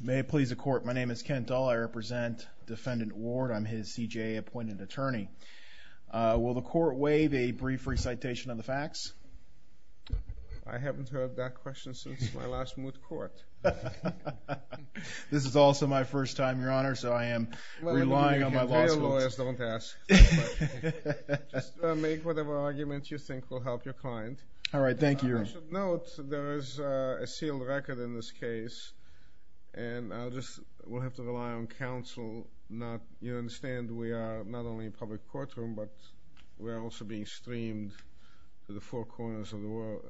May it please the court, my name is Ken Dull. I represent defendant Ward. I'm his CJA appointed attorney. Will the court waive a brief recitation of the facts? I haven't heard that question since my last moot court. This is also my first time, your honor, so I am relying on my law school. Well, you can pay your lawyers, don't ask. Just make whatever argument you think will help your sealed record in this case, and I'll just, we'll have to rely on counsel, not, you understand, we are not only in public courtroom, but we're also being streamed to the four corners of the world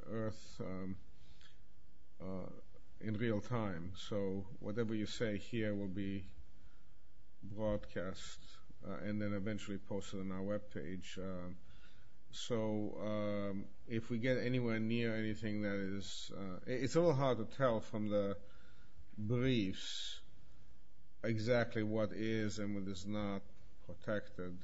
in real time. So whatever you say here will be broadcast and then eventually posted on our web page. So if we get anywhere near anything that is, it's a little hard to tell from the briefs exactly what is and what is not protected.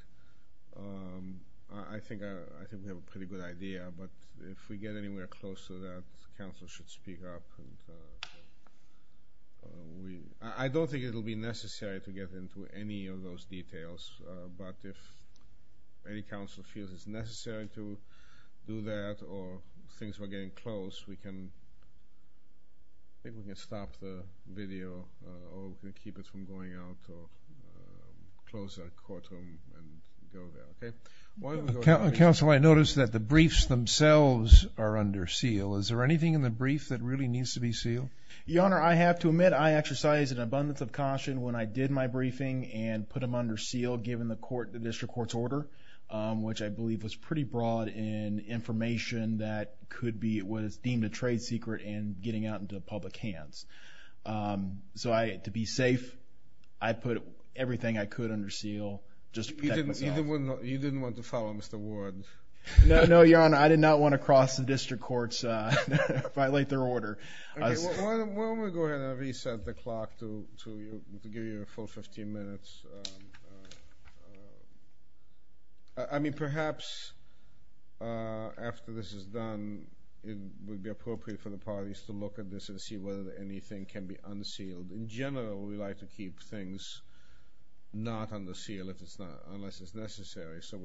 I think, I think we have a pretty good idea, but if we get anywhere close to that, counsel should speak up. I don't think it'll be necessary to get into any of those things we're getting close. We can, I think we can stop the video or we can keep it from going out or close our courtroom and go there. Counsel, I noticed that the briefs themselves are under seal. Is there anything in the brief that really needs to be sealed? Your honor, I have to admit I exercise an abundance of caution when I did my briefing and put them under seal given the court, the district court's order, which I believe was pretty broad in information that could be, it was deemed a trade secret and getting out into public hands. So I, to be safe, I put everything I could under seal just to protect myself. You didn't want to follow Mr. Ward. No, no, your honor. I did not want to cross the district courts, violate their order. Why don't we go ahead and reset the clock to give you a full 15 minutes. I mean, perhaps after this is done, it would be appropriate for the parties to look at this and see whether anything can be unsealed. In general, we like to keep things not under seal if it's not, unless it's necessary. So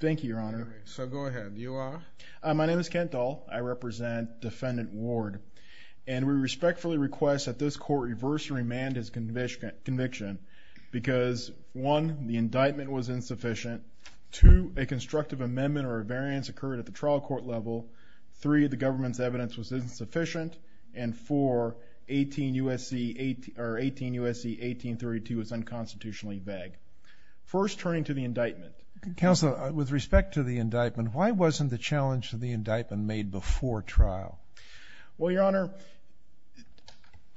thank you, your honor. So go ahead. You are? My name is Kent Dahl. I represent defendant Ward, and we respectfully request that this court reverse and remand his conviction because, one, the indictment was insufficient. Two, a constructive amendment or a variance occurred at the trial court level. Three, the government's evidence was insufficient. And four, 18 U.S.C. 1832 is unconstitutionally vague. First, turning to the indictment. Counselor, with respect to the indictment, why wasn't the challenge to the indictment made before trial? Well, your honor,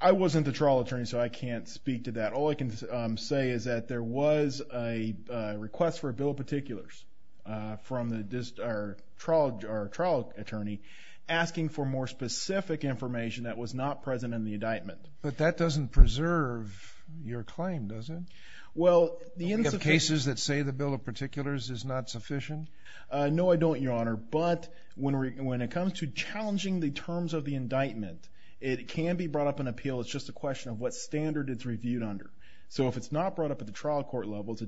I wasn't the trial attorney, so I can't speak to that. All I can say is that there was a request for a bill of particulars from the trial attorney asking for more specific information that was not present in the indictment. But that doesn't preserve your claim, does it? Well, the cases that say the bill of particulars is not sufficient? No, I don't, your honor. But when it comes to challenging the terms of the indictment, it can be brought up in appeal. It's just a question of what standard it's reviewed under. So if it's not brought up at the trial court level, it's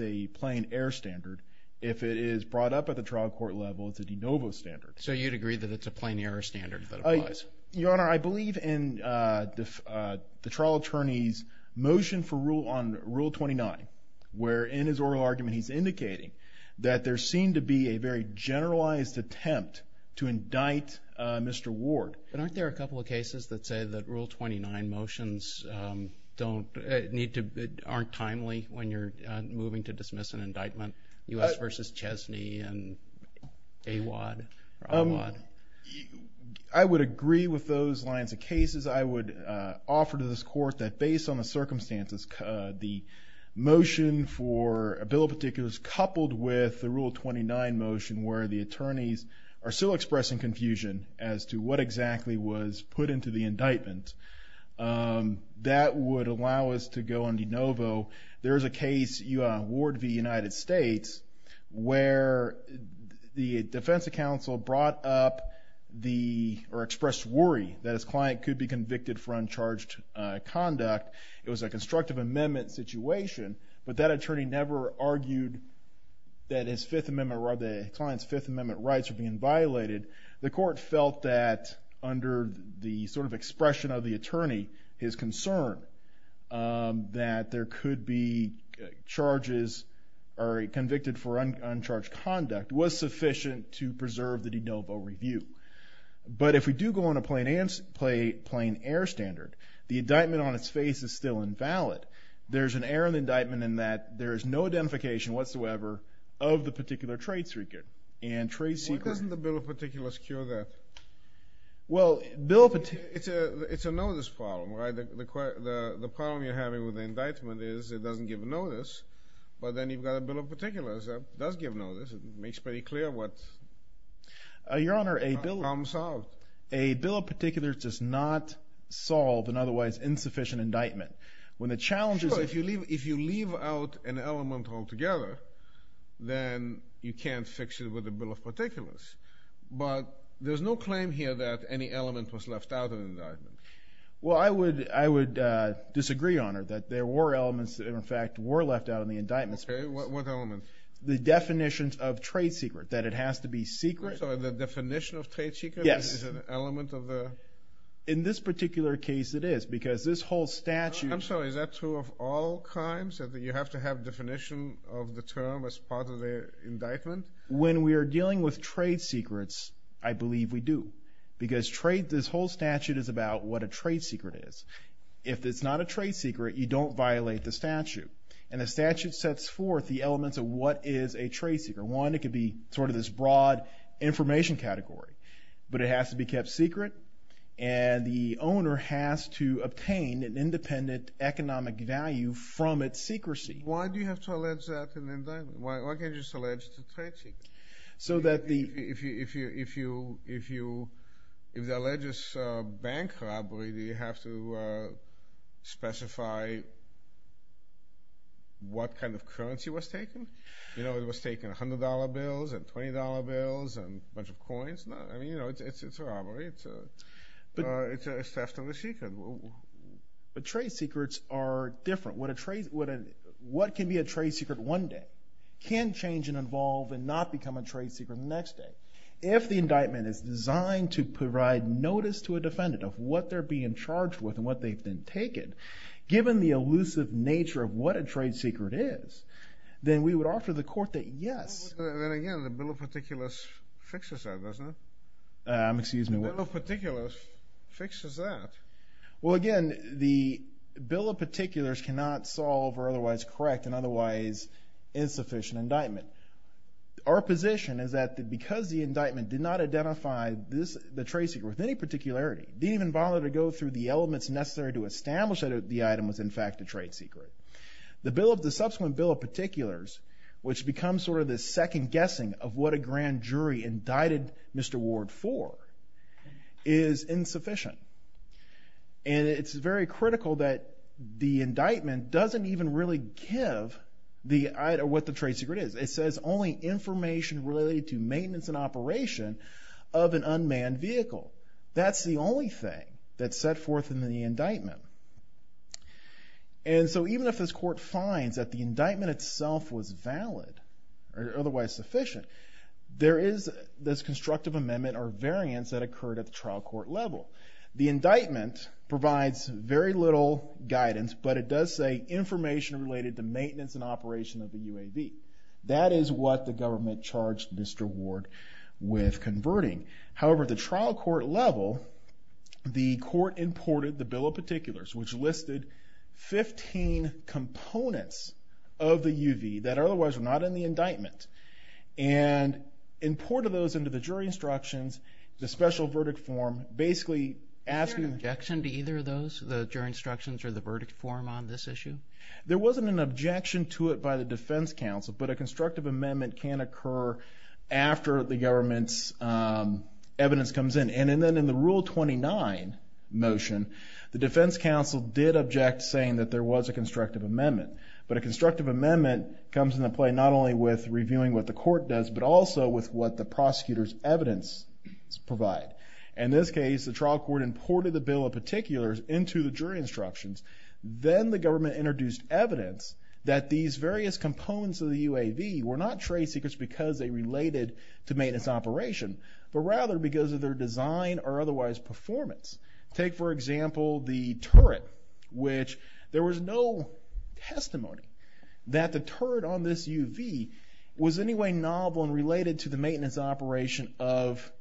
a plain error standard. If it is brought up at the trial court level, it's a de novo standard. So you'd agree that it's a plain error standard that applies? Your honor, I believe in the trial attorney's motion for rule on Rule 29, where in his oral argument he's indicating that there seemed to be a very generalized attempt to indict Mr. Ward. But aren't there a couple of cases that say that Rule 29 motions don't need to, aren't timely when you're moving to dismiss an indictment? U.S. v. Chesney and Awad. I would agree with those lines of cases. I would offer to this court that based on the circumstances, the motion for a bill of particulars coupled with the Rule 29 motion where the attorneys are still expressing confusion as to what exactly was put into the indictment. That would allow us to go beyond de novo. There is a case, Ward v. United States, where the defense counsel brought up or expressed worry that his client could be convicted for uncharged conduct. It was a constructive amendment situation, but that attorney never argued that his client's Fifth Amendment rights were being violated. The court felt that under the sort of expression of the attorney, his concern that there could be charges or convicted for uncharged conduct was sufficient to preserve the de novo review. But if we do go on a plain air standard, the indictment on its face is still invalid. There's an error in the indictment in that there is no identification whatsoever of the particular trade secret. Why doesn't the bill of particulars cure that? It's a notice problem. The problem you're having with the indictment is it doesn't give notice, but then you've got a bill of particulars that does give notice. It makes pretty clear what comes out. Your Honor, a bill of particulars does not solve an otherwise insufficient indictment. Sure, if you leave out an element altogether, then you can't fix it with a bill of particulars. But there's no claim here that any element was left out of the indictment. Well, I would disagree, Your Honor, that there were elements that in fact were left out of the indictment. Okay, what elements? The definitions of trade secret, that it has to be secret. So the definition of trade secret is an element of the... In this particular case, it is, because this whole statute... I'm sorry, is that true of all crimes, that you have to have a definition of the term as part of the indictment? When we are dealing with trade secrets, I believe we do. Because this whole statute is about what a trade secret is. If it's not a trade secret, you don't violate the statute. And the statute sets forth the elements of what is a trade secret. One, it could be sort of this broad information category. But it has to be kept secret, and the owner has to obtain an independent economic value from its secrecy. Why do you have to allege that in the indictment? Why can't you just allege it's a trade secret? So that the... If the allege is a bank robbery, do you have to specify what kind of currency was taken? You know, it was taken $100 bills and $20 bills and a bunch of coins? I mean, you know, it's a robbery. It's a theft of a secret. But trade secrets are different. What can be a trade secret one day can change and evolve and not become a trade secret the next day. If the indictment is designed to provide notice to a defendant of what they're being charged with and what they've been taken, given the elusive nature of what a trade secret is, then we would offer the court that, yes. Then again, the Bill of Particulars fixes that, doesn't it? Excuse me? The Bill of Particulars fixes that. Well, again, the Bill of Particulars cannot solve or otherwise correct an otherwise insufficient indictment. Our position is that because the indictment did not identify the trade secret with any particularity, didn't even bother to go through the elements necessary to establish that the item was in fact a trade secret, the subsequent Bill of Particulars, which becomes sort of the second guessing of what a grand jury indicted Mr. Ward for, is insufficient. And it's very critical that the indictment doesn't even really give what the trade secret is. It says only information related to maintenance and operation of an unmanned vehicle. That's the only thing that's set forth in the indictment. And so even if this court finds that the indictment itself was valid or otherwise sufficient, there is this constructive amendment or variance that occurred at the trial court level. The indictment provides very little guidance, but it does say information related to maintenance and operation of the UAV. That is what the government charged Mr. Ward with converting. However, at the trial court level, the court imported the Bill of Particulars, which listed 15 components of the UAV that otherwise were not in the indictment, and imported those into the jury instructions, the special verdict form, basically asking... Was there an objection to either of those, the jury instructions or the verdict form on this issue? There wasn't an objection to it by the defense counsel, but a constructive amendment can occur after the government's evidence comes in. And then in the Rule 29 motion, the defense counsel did object, saying that there was a constructive amendment. But a constructive amendment comes into play not only with reviewing what the court does, but also with what the prosecutor's evidence provides. In this case, the trial court imported the Bill of Particulars into the jury instructions. Then the government introduced evidence that these various components of the UAV were not traced because they related to maintenance operation, but rather because of their design or otherwise performance. Take, for example, the turret, which there was no testimony that the turret on this UV was in any way novel and related to the maintenance operation of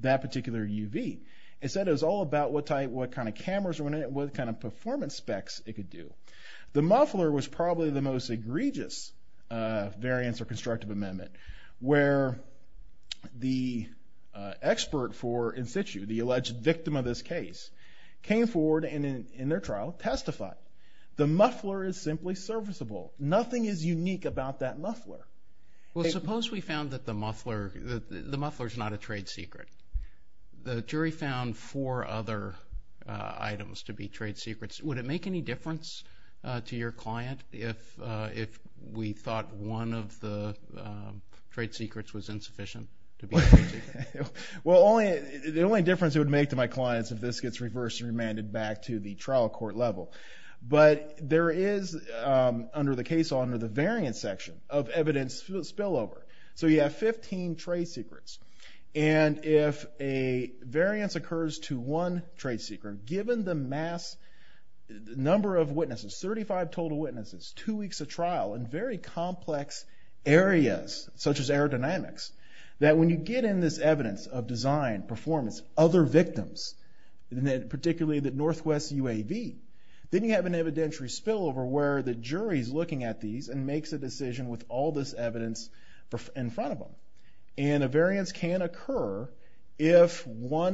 that particular UV. Instead, it was all about what kind of cameras were in it, what kind of performance specs it could do. The muffler was probably the most egregious variance or constructive amendment, where the expert for in situ, the alleged victim of this case, came forward in their trial and testified. The muffler is simply serviceable. Nothing is unique about that muffler. Well, suppose we found that the muffler is not a trade secret. The jury found four other items to be trade secrets. Would it make any difference to your client if we thought one of the trade secrets was insufficient to be a trade secret? Well, the only difference it would make to my clients if this gets reversed and remanded back to the trial court level. But there is, under the case law, under the variance section of evidence spillover. So you have 15 trade secrets. And if a variance occurs to one trade secret, given the mass number of witnesses, 35 total witnesses, two weeks of trial in very complex areas such as aerodynamics, that when you get in this evidence of design, performance, other victims, particularly the Northwest UAV, then you have an evidentiary spillover where the jury is looking at these and makes a decision with all this evidence in front of them. And a variance can occur if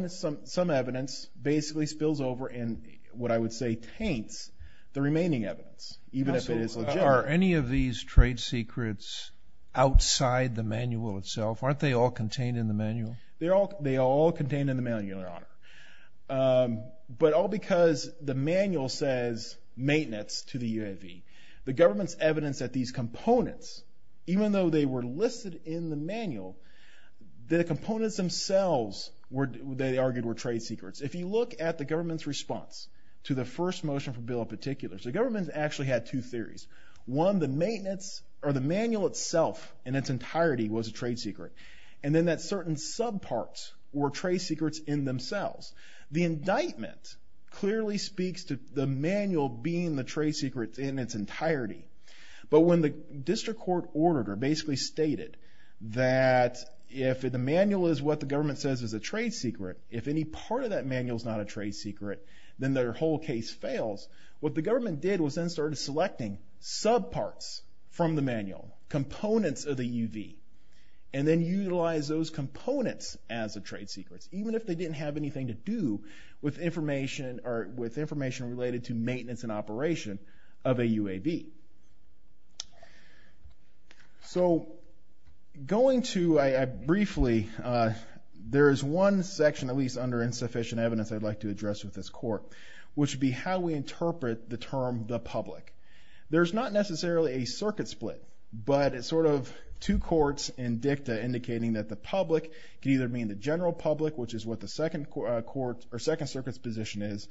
some evidence basically spills over and what I would say taints the remaining evidence, even if it is legitimate. Are any of these trade secrets outside the manual itself? Aren't they all contained in the manual? They are all contained in the manual, Your Honor. But all because the manual says maintenance to the UAV. The government's evidence that these components, even though they were listed in the manual, the components themselves they argued were trade secrets. If you look at the government's response to the first motion for the bill in particular, the government actually had two theories. One, the manual itself in its entirety was a trade secret. And then that certain subparts were trade secrets in themselves. The indictment clearly speaks to the manual being the trade secret in its entirety. But when the district court ordered or basically stated that if the manual is what the government says is a trade secret, if any part of that manual is not a trade secret, then their whole case fails. What the government did was then started selecting subparts from the manual, components of the UAV, and then utilize those components as a trade secret, even if they didn't have anything to do with information or with information related to maintenance and operation of a UAV. So going to briefly, there is one section at least under insufficient evidence I'd like to address with this court, which would be how we interpret the term the public. There's not necessarily a circuit split, but it's sort of two courts in dicta indicating that the public could either mean the general public, which is what the Second Circuit's position is,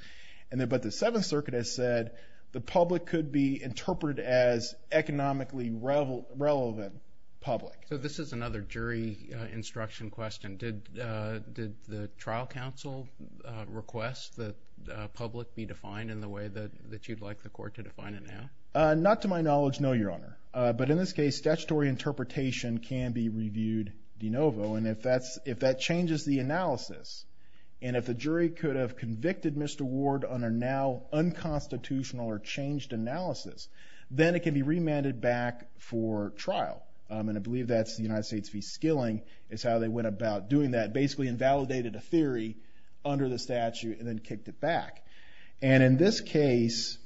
but the Seventh Circuit has said the public could be interpreted as economically relevant public. So this is another jury instruction question. Did the trial counsel request that public be defined in the way that you'd like the court to define it now? Not to my knowledge, no, Your Honor. But in this case, statutory interpretation can be reviewed de novo, and if that changes the analysis, and if the jury could have convicted Mr. Ward on a now unconstitutional or changed analysis, then it can be remanded back for trial. And I believe that's the United States v. Skilling, is how they went about doing that, basically invalidated a theory under the statute and then kicked it back. And in this case,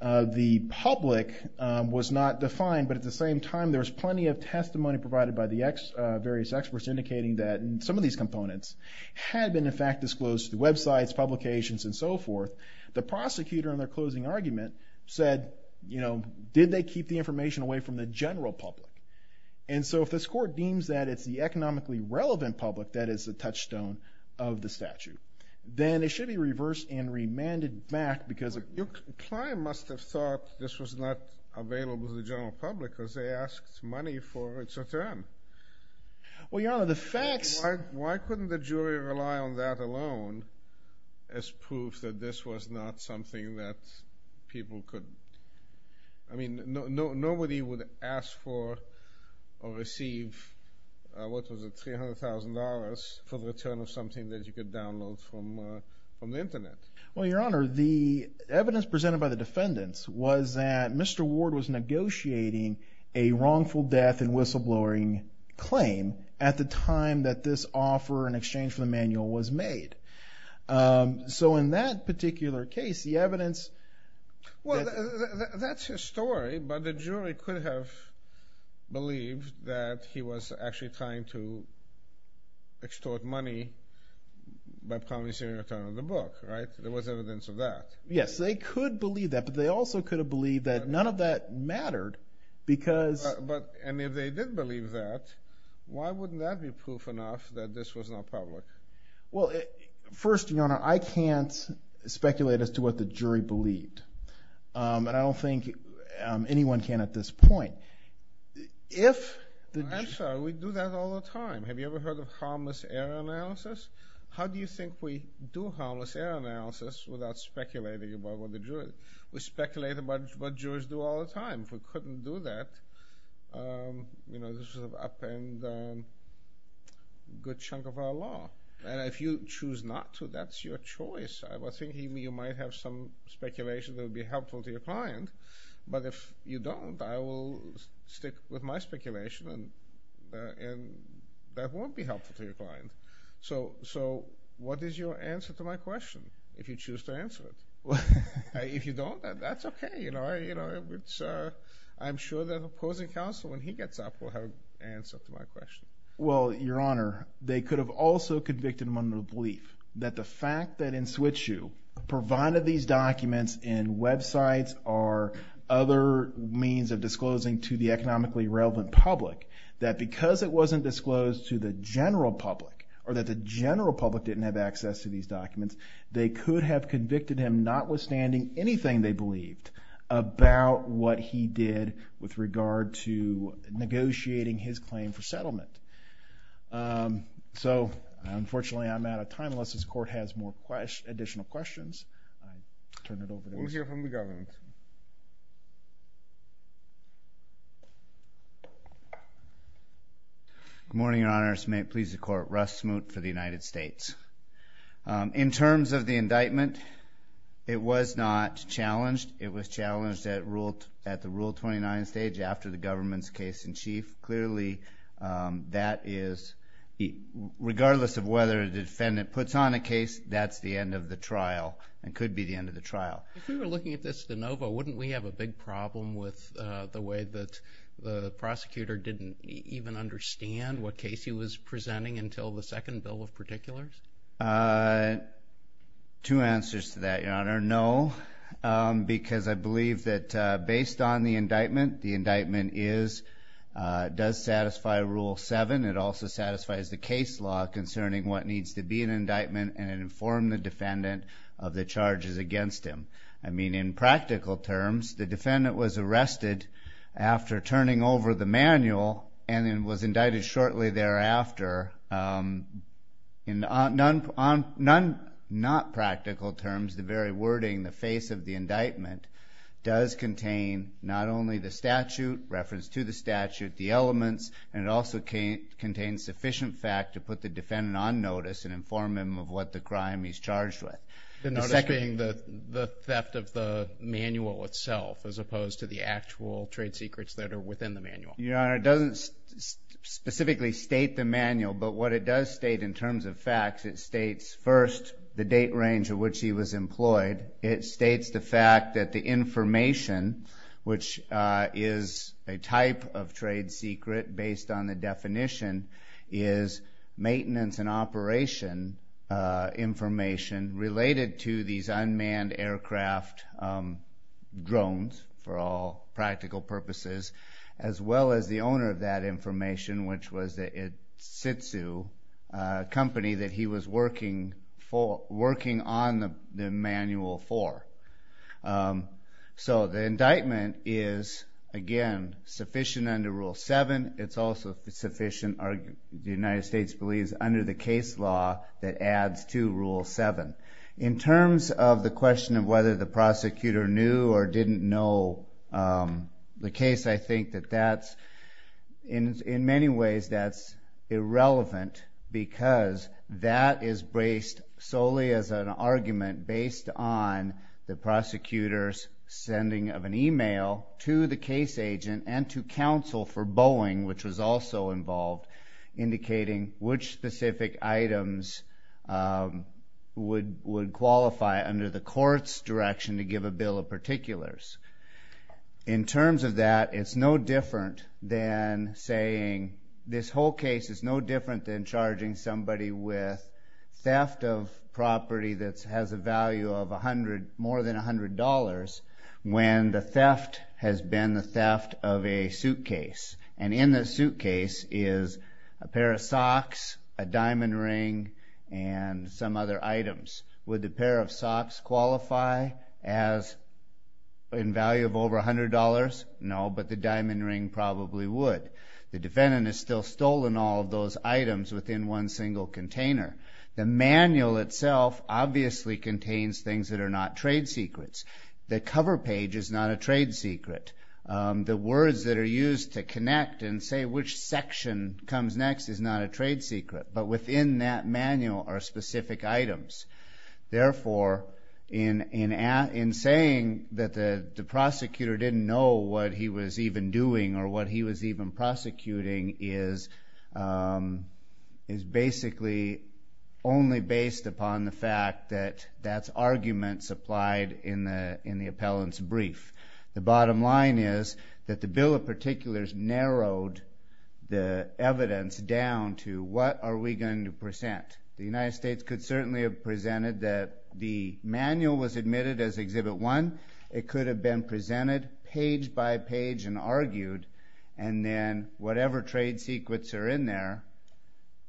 the public was not defined, but at the same time there was plenty of testimony provided by the various experts indicating that some of these components had been in fact disclosed to websites, publications, and so forth. The prosecutor in their closing argument said, you know, did they keep the information away from the general public? And so if this court deems that it's the economically relevant public that is the touchstone of the statute, then it should be reversed and remanded back because of... Your client must have thought this was not available to the general public because they asked money for its return. Well, Your Honor, the facts... Why couldn't the jury rely on that alone as proof that this was not something that people could... I mean, nobody would ask for or receive, what was it, $300,000 for the return of something that you could download from the Internet. Well, Your Honor, the evidence presented by the defendants was that Mr. Ward was negotiating a wrongful death and whistleblowing claim at the time that this offer in exchange for the manual was made. So in that particular case, the evidence... Well, that's his story, but the jury could have believed that he was actually trying to extort money by promising a return of the book, right? There was evidence of that. Yes, they could believe that, but they also could have believed that none of that mattered because... And if they did believe that, why wouldn't that be proof enough that this was not public? Well, first, Your Honor, I can't speculate as to what the jury believed, and I don't think anyone can at this point. I'm sorry, we do that all the time. Have you ever heard of harmless error analysis? How do you think we do harmless error analysis without speculating about what the jury... We speculate about what jurors do all the time. If we couldn't do that, this would upend a good chunk of our law. And if you choose not to, that's your choice. I was thinking you might have some speculation that would be helpful to your client, but if you don't, I will stick with my speculation, and that won't be helpful to your client. So what is your answer to my question, if you choose to answer it? If you don't, that's okay. I'm sure the opposing counsel, when he gets up, will have an answer to my question. Well, Your Honor, they could have also convicted them under the belief that the fact that in Switzsue provided these documents and websites are other means of disclosing to the economically relevant public, that because it wasn't disclosed to the general public, or that the general public didn't have access to these documents, they could have convicted him, notwithstanding anything they believed, about what he did with regard to negotiating his claim for settlement. So, unfortunately, I'm out of time unless this Court has additional questions. We'll hear from the government. Good morning, Your Honor. May it please the Court. Russ Smoot for the United States. In terms of the indictment, it was not challenged. It was challenged at the Rule 29 stage after the government's case in chief. Clearly, that is, regardless of whether the defendant puts on a case, that's the end of the trial and could be the end of the trial. If we were looking at this de novo, wouldn't we have a big problem with the way that the prosecutor didn't even understand what case he was presenting until the second bill of particulars? Two answers to that, Your Honor. No, because I believe that based on the indictment, the indictment does satisfy Rule 7. It also satisfies the case law concerning what needs to be an indictment and inform the defendant of the charges against him. I mean, in practical terms, the defendant was arrested after turning over the manual and was indicted shortly thereafter. In non-practical terms, the very wording, the face of the indictment, does contain not only the statute, reference to the statute, the elements, and it also contains sufficient fact to put the defendant on notice and inform him of what the crime he's charged with. The notice being the theft of the manual itself as opposed to the actual trade secrets that are within the manual. Your Honor, it doesn't specifically state the manual, but what it does state in terms of facts, it states first the date range at which he was employed. It states the fact that the information, which is a type of trade secret based on the definition, is maintenance and operation information related to these unmanned aircraft drones, for all practical purposes, as well as the owner of that information, which was the Isitsu company that he was working on the manual for. So the indictment is, again, sufficient under Rule 7. It's also sufficient, the United States believes, under the case law that adds to Rule 7. In terms of the question of whether the prosecutor knew or didn't know the case, I think that in many ways that's irrelevant because that is based solely as an argument based on the prosecutor's sending of an email to the case agent and to counsel for Boeing, which was also involved, indicating which specific items would qualify under the court's direction to give a bill of particulars. In terms of that, it's no different than saying this whole case is no different than charging somebody with theft of property that has a value of more than $100 when the theft has been the theft of a suitcase, and in the suitcase is a pair of socks, a diamond ring, and some other items. Would the pair of socks qualify as in value of over $100? No, but the diamond ring probably would. The defendant has still stolen all of those items within one single container. The manual itself obviously contains things that are not trade secrets. The cover page is not a trade secret. The words that are used to connect and say which section comes next is not a trade secret, but within that manual are specific items. Therefore, in saying that the prosecutor didn't know what he was even doing or what he was even prosecuting is basically only based upon the fact that that's argument supplied in the appellant's brief. The bottom line is that the bill of particulars narrowed the evidence down to what are we going to present. The United States could certainly have presented that the manual was admitted as Exhibit 1. It could have been presented page by page and argued, and then whatever trade secrets are in there,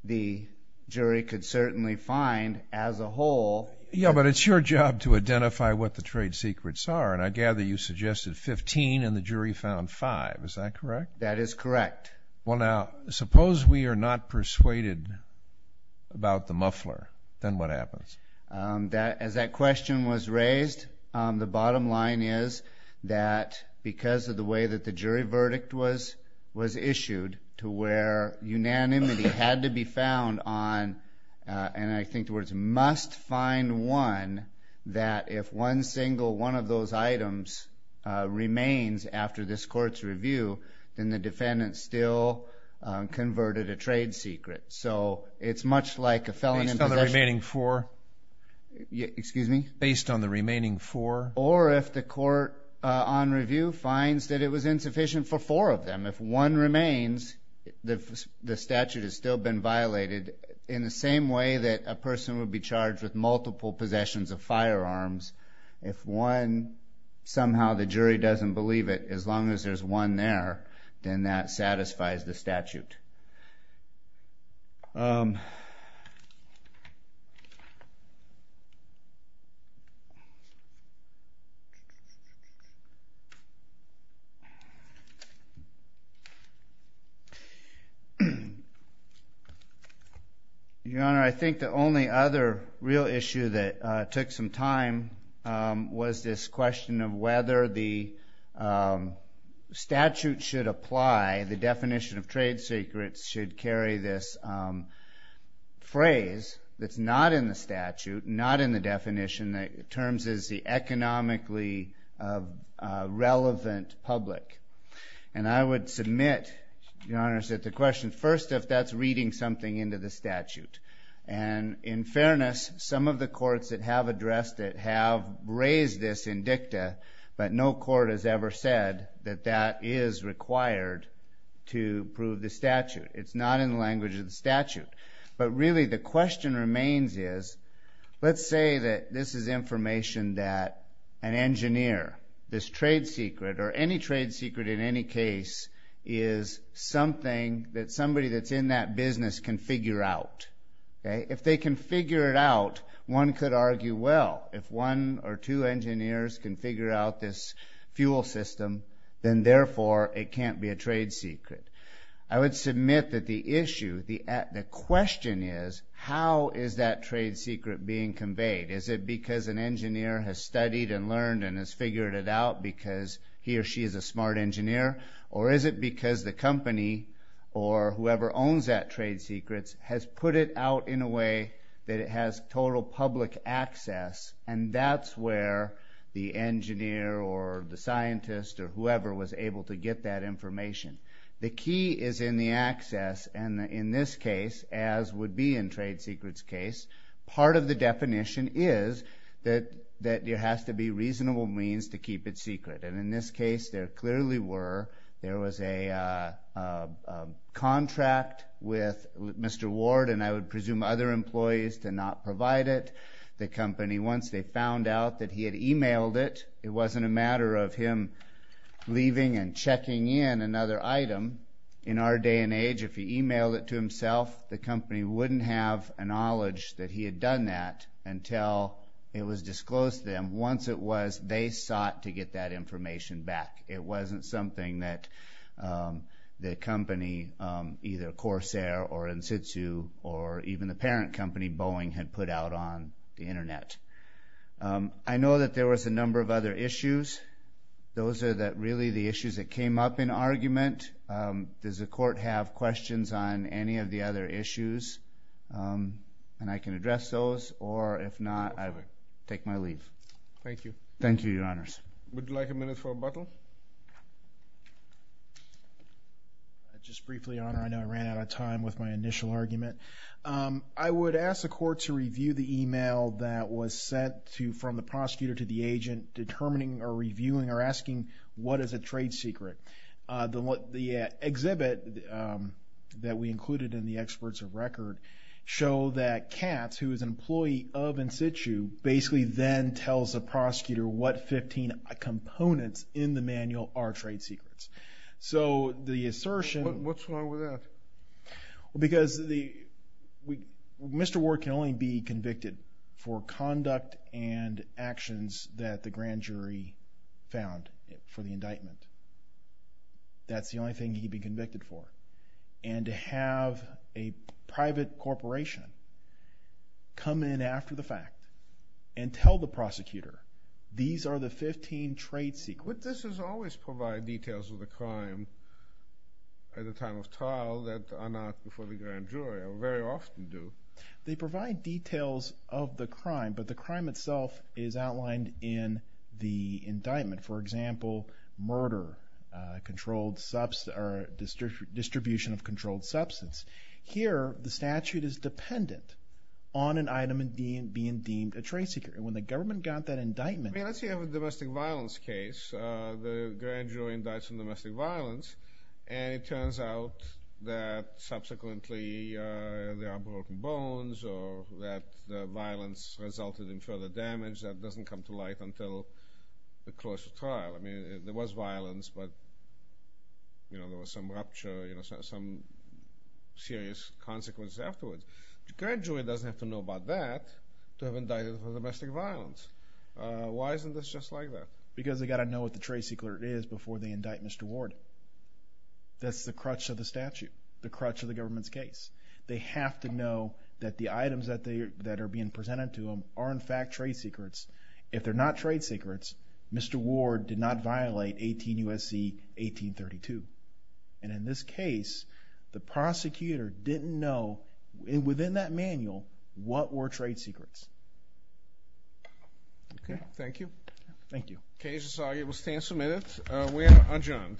the jury could certainly find as a whole. Yeah, but it's your job to identify what the trade secrets are, and I gather you suggested 15 and the jury found 5. Is that correct? That is correct. Well, now, suppose we are not persuaded about the muffler. Then what happens? As that question was raised, the bottom line is that because of the way that the jury verdict was issued to where unanimity had to be found on, and I think the words must find one, that if one single one of those items remains after this Court's review, then the defendant still converted a trade secret. So it's much like a felon in possession. Based on the remaining four? Excuse me? Based on the remaining four? Or if the Court, on review, finds that it was insufficient for four of them. If one remains, the statute has still been violated, in the same way that a person would be charged with multiple possessions of firearms. If one, somehow the jury doesn't believe it, Your Honor, I think the only other real issue that took some time was this question of whether the statute should apply, the definition of trade secrets should carry this phrase that's not in the statute, not in the definition. the political, the religious, economically relevant public. And I would submit, Your Honor, that the question, first, if that's reading something into the statute. And in fairness, some of the courts that have addressed it have raised this in dicta, but no court has ever said that that is required to prove the statute. It's not in the language of the statute. But really, the question remains is, let's say that this is information that an engineer, this trade secret, or any trade secret in any case, is something that somebody that's in that business can figure out. If they can figure it out, one could argue, well, if one or two engineers can figure out this fuel system, then, therefore, it can't be a trade secret. I would submit that the issue, the question is, how is that trade secret being conveyed? Is it because an engineer has studied and learned and has figured it out because he or she is a smart engineer? Or is it because the company, or whoever owns that trade secret, has put it out in a way that it has total public access, and that's where the engineer or the scientist or whoever was able to get that information. The key is in the access, and in this case, as would be in trade secrets case, part of the definition is that there has to be reasonable means to keep it secret. And in this case, there clearly were. There was a contract with Mr. Ward and I would presume other employees to not provide it. The company, once they found out that he had emailed it, it wasn't a matter of him leaving and checking in another item. In our day and age, if he emailed it to himself, the company wouldn't have a knowledge that he had done that until it was disclosed to them. Once it was, they sought to get that information back. It wasn't something that the company, either Corsair or Insitsu or even the parent company, Boeing, had put out on the Internet. I know that there was a number of other issues. Those are really the issues that came up in argument. Does the court have questions on any of the other issues? And I can address those, or if not, I will take my leave. Thank you. Thank you, Your Honors. Would you like a minute for rebuttal? Just briefly, Your Honor. I know I ran out of time with my initial argument. I would ask the court to review the email that was sent from the prosecutor to the agent determining or reviewing or asking what is a trade secret. The exhibit that we included in the experts of record show that Katz, who is an employee of Insitu, basically then tells the prosecutor what 15 components in the manual are trade secrets. So the assertion… What's wrong with that? Because Mr. Ward can only be convicted for conduct and actions that the grand jury found for the indictment. That's the only thing he can be convicted for. And to have a private corporation come in after the fact and tell the prosecutor these are the 15 trade secrets… But this does always provide details of the crime at the time of trial that are not before the grand jury, or very often do. They provide details of the crime, but the crime itself is outlined in the indictment. For example, murder, distribution of controlled substance. Here, the statute is dependent on an item being deemed a trade secret. When the government got that indictment… Let's say you have a domestic violence case. The grand jury indicts on domestic violence, and it turns out that subsequently there are broken bones or that the violence resulted in further damage that doesn't come to light until the close of trial. There was violence, but there was some rupture, some serious consequences afterwards. The grand jury doesn't have to know about that to have indicted for domestic violence. Why isn't this just like that? Because they've got to know what the trade secret is before they indict Mr. Ward. That's the crutch of the statute, the crutch of the government's case. They have to know that the items that are being presented to them are, in fact, trade secrets. If they're not trade secrets, Mr. Ward did not violate 18 U.S.C. 1832. And in this case, the prosecutor didn't know, within that manual, what were trade secrets. Okay, thank you. Thank you. Case is argued. We'll stand some minutes. We are adjourned.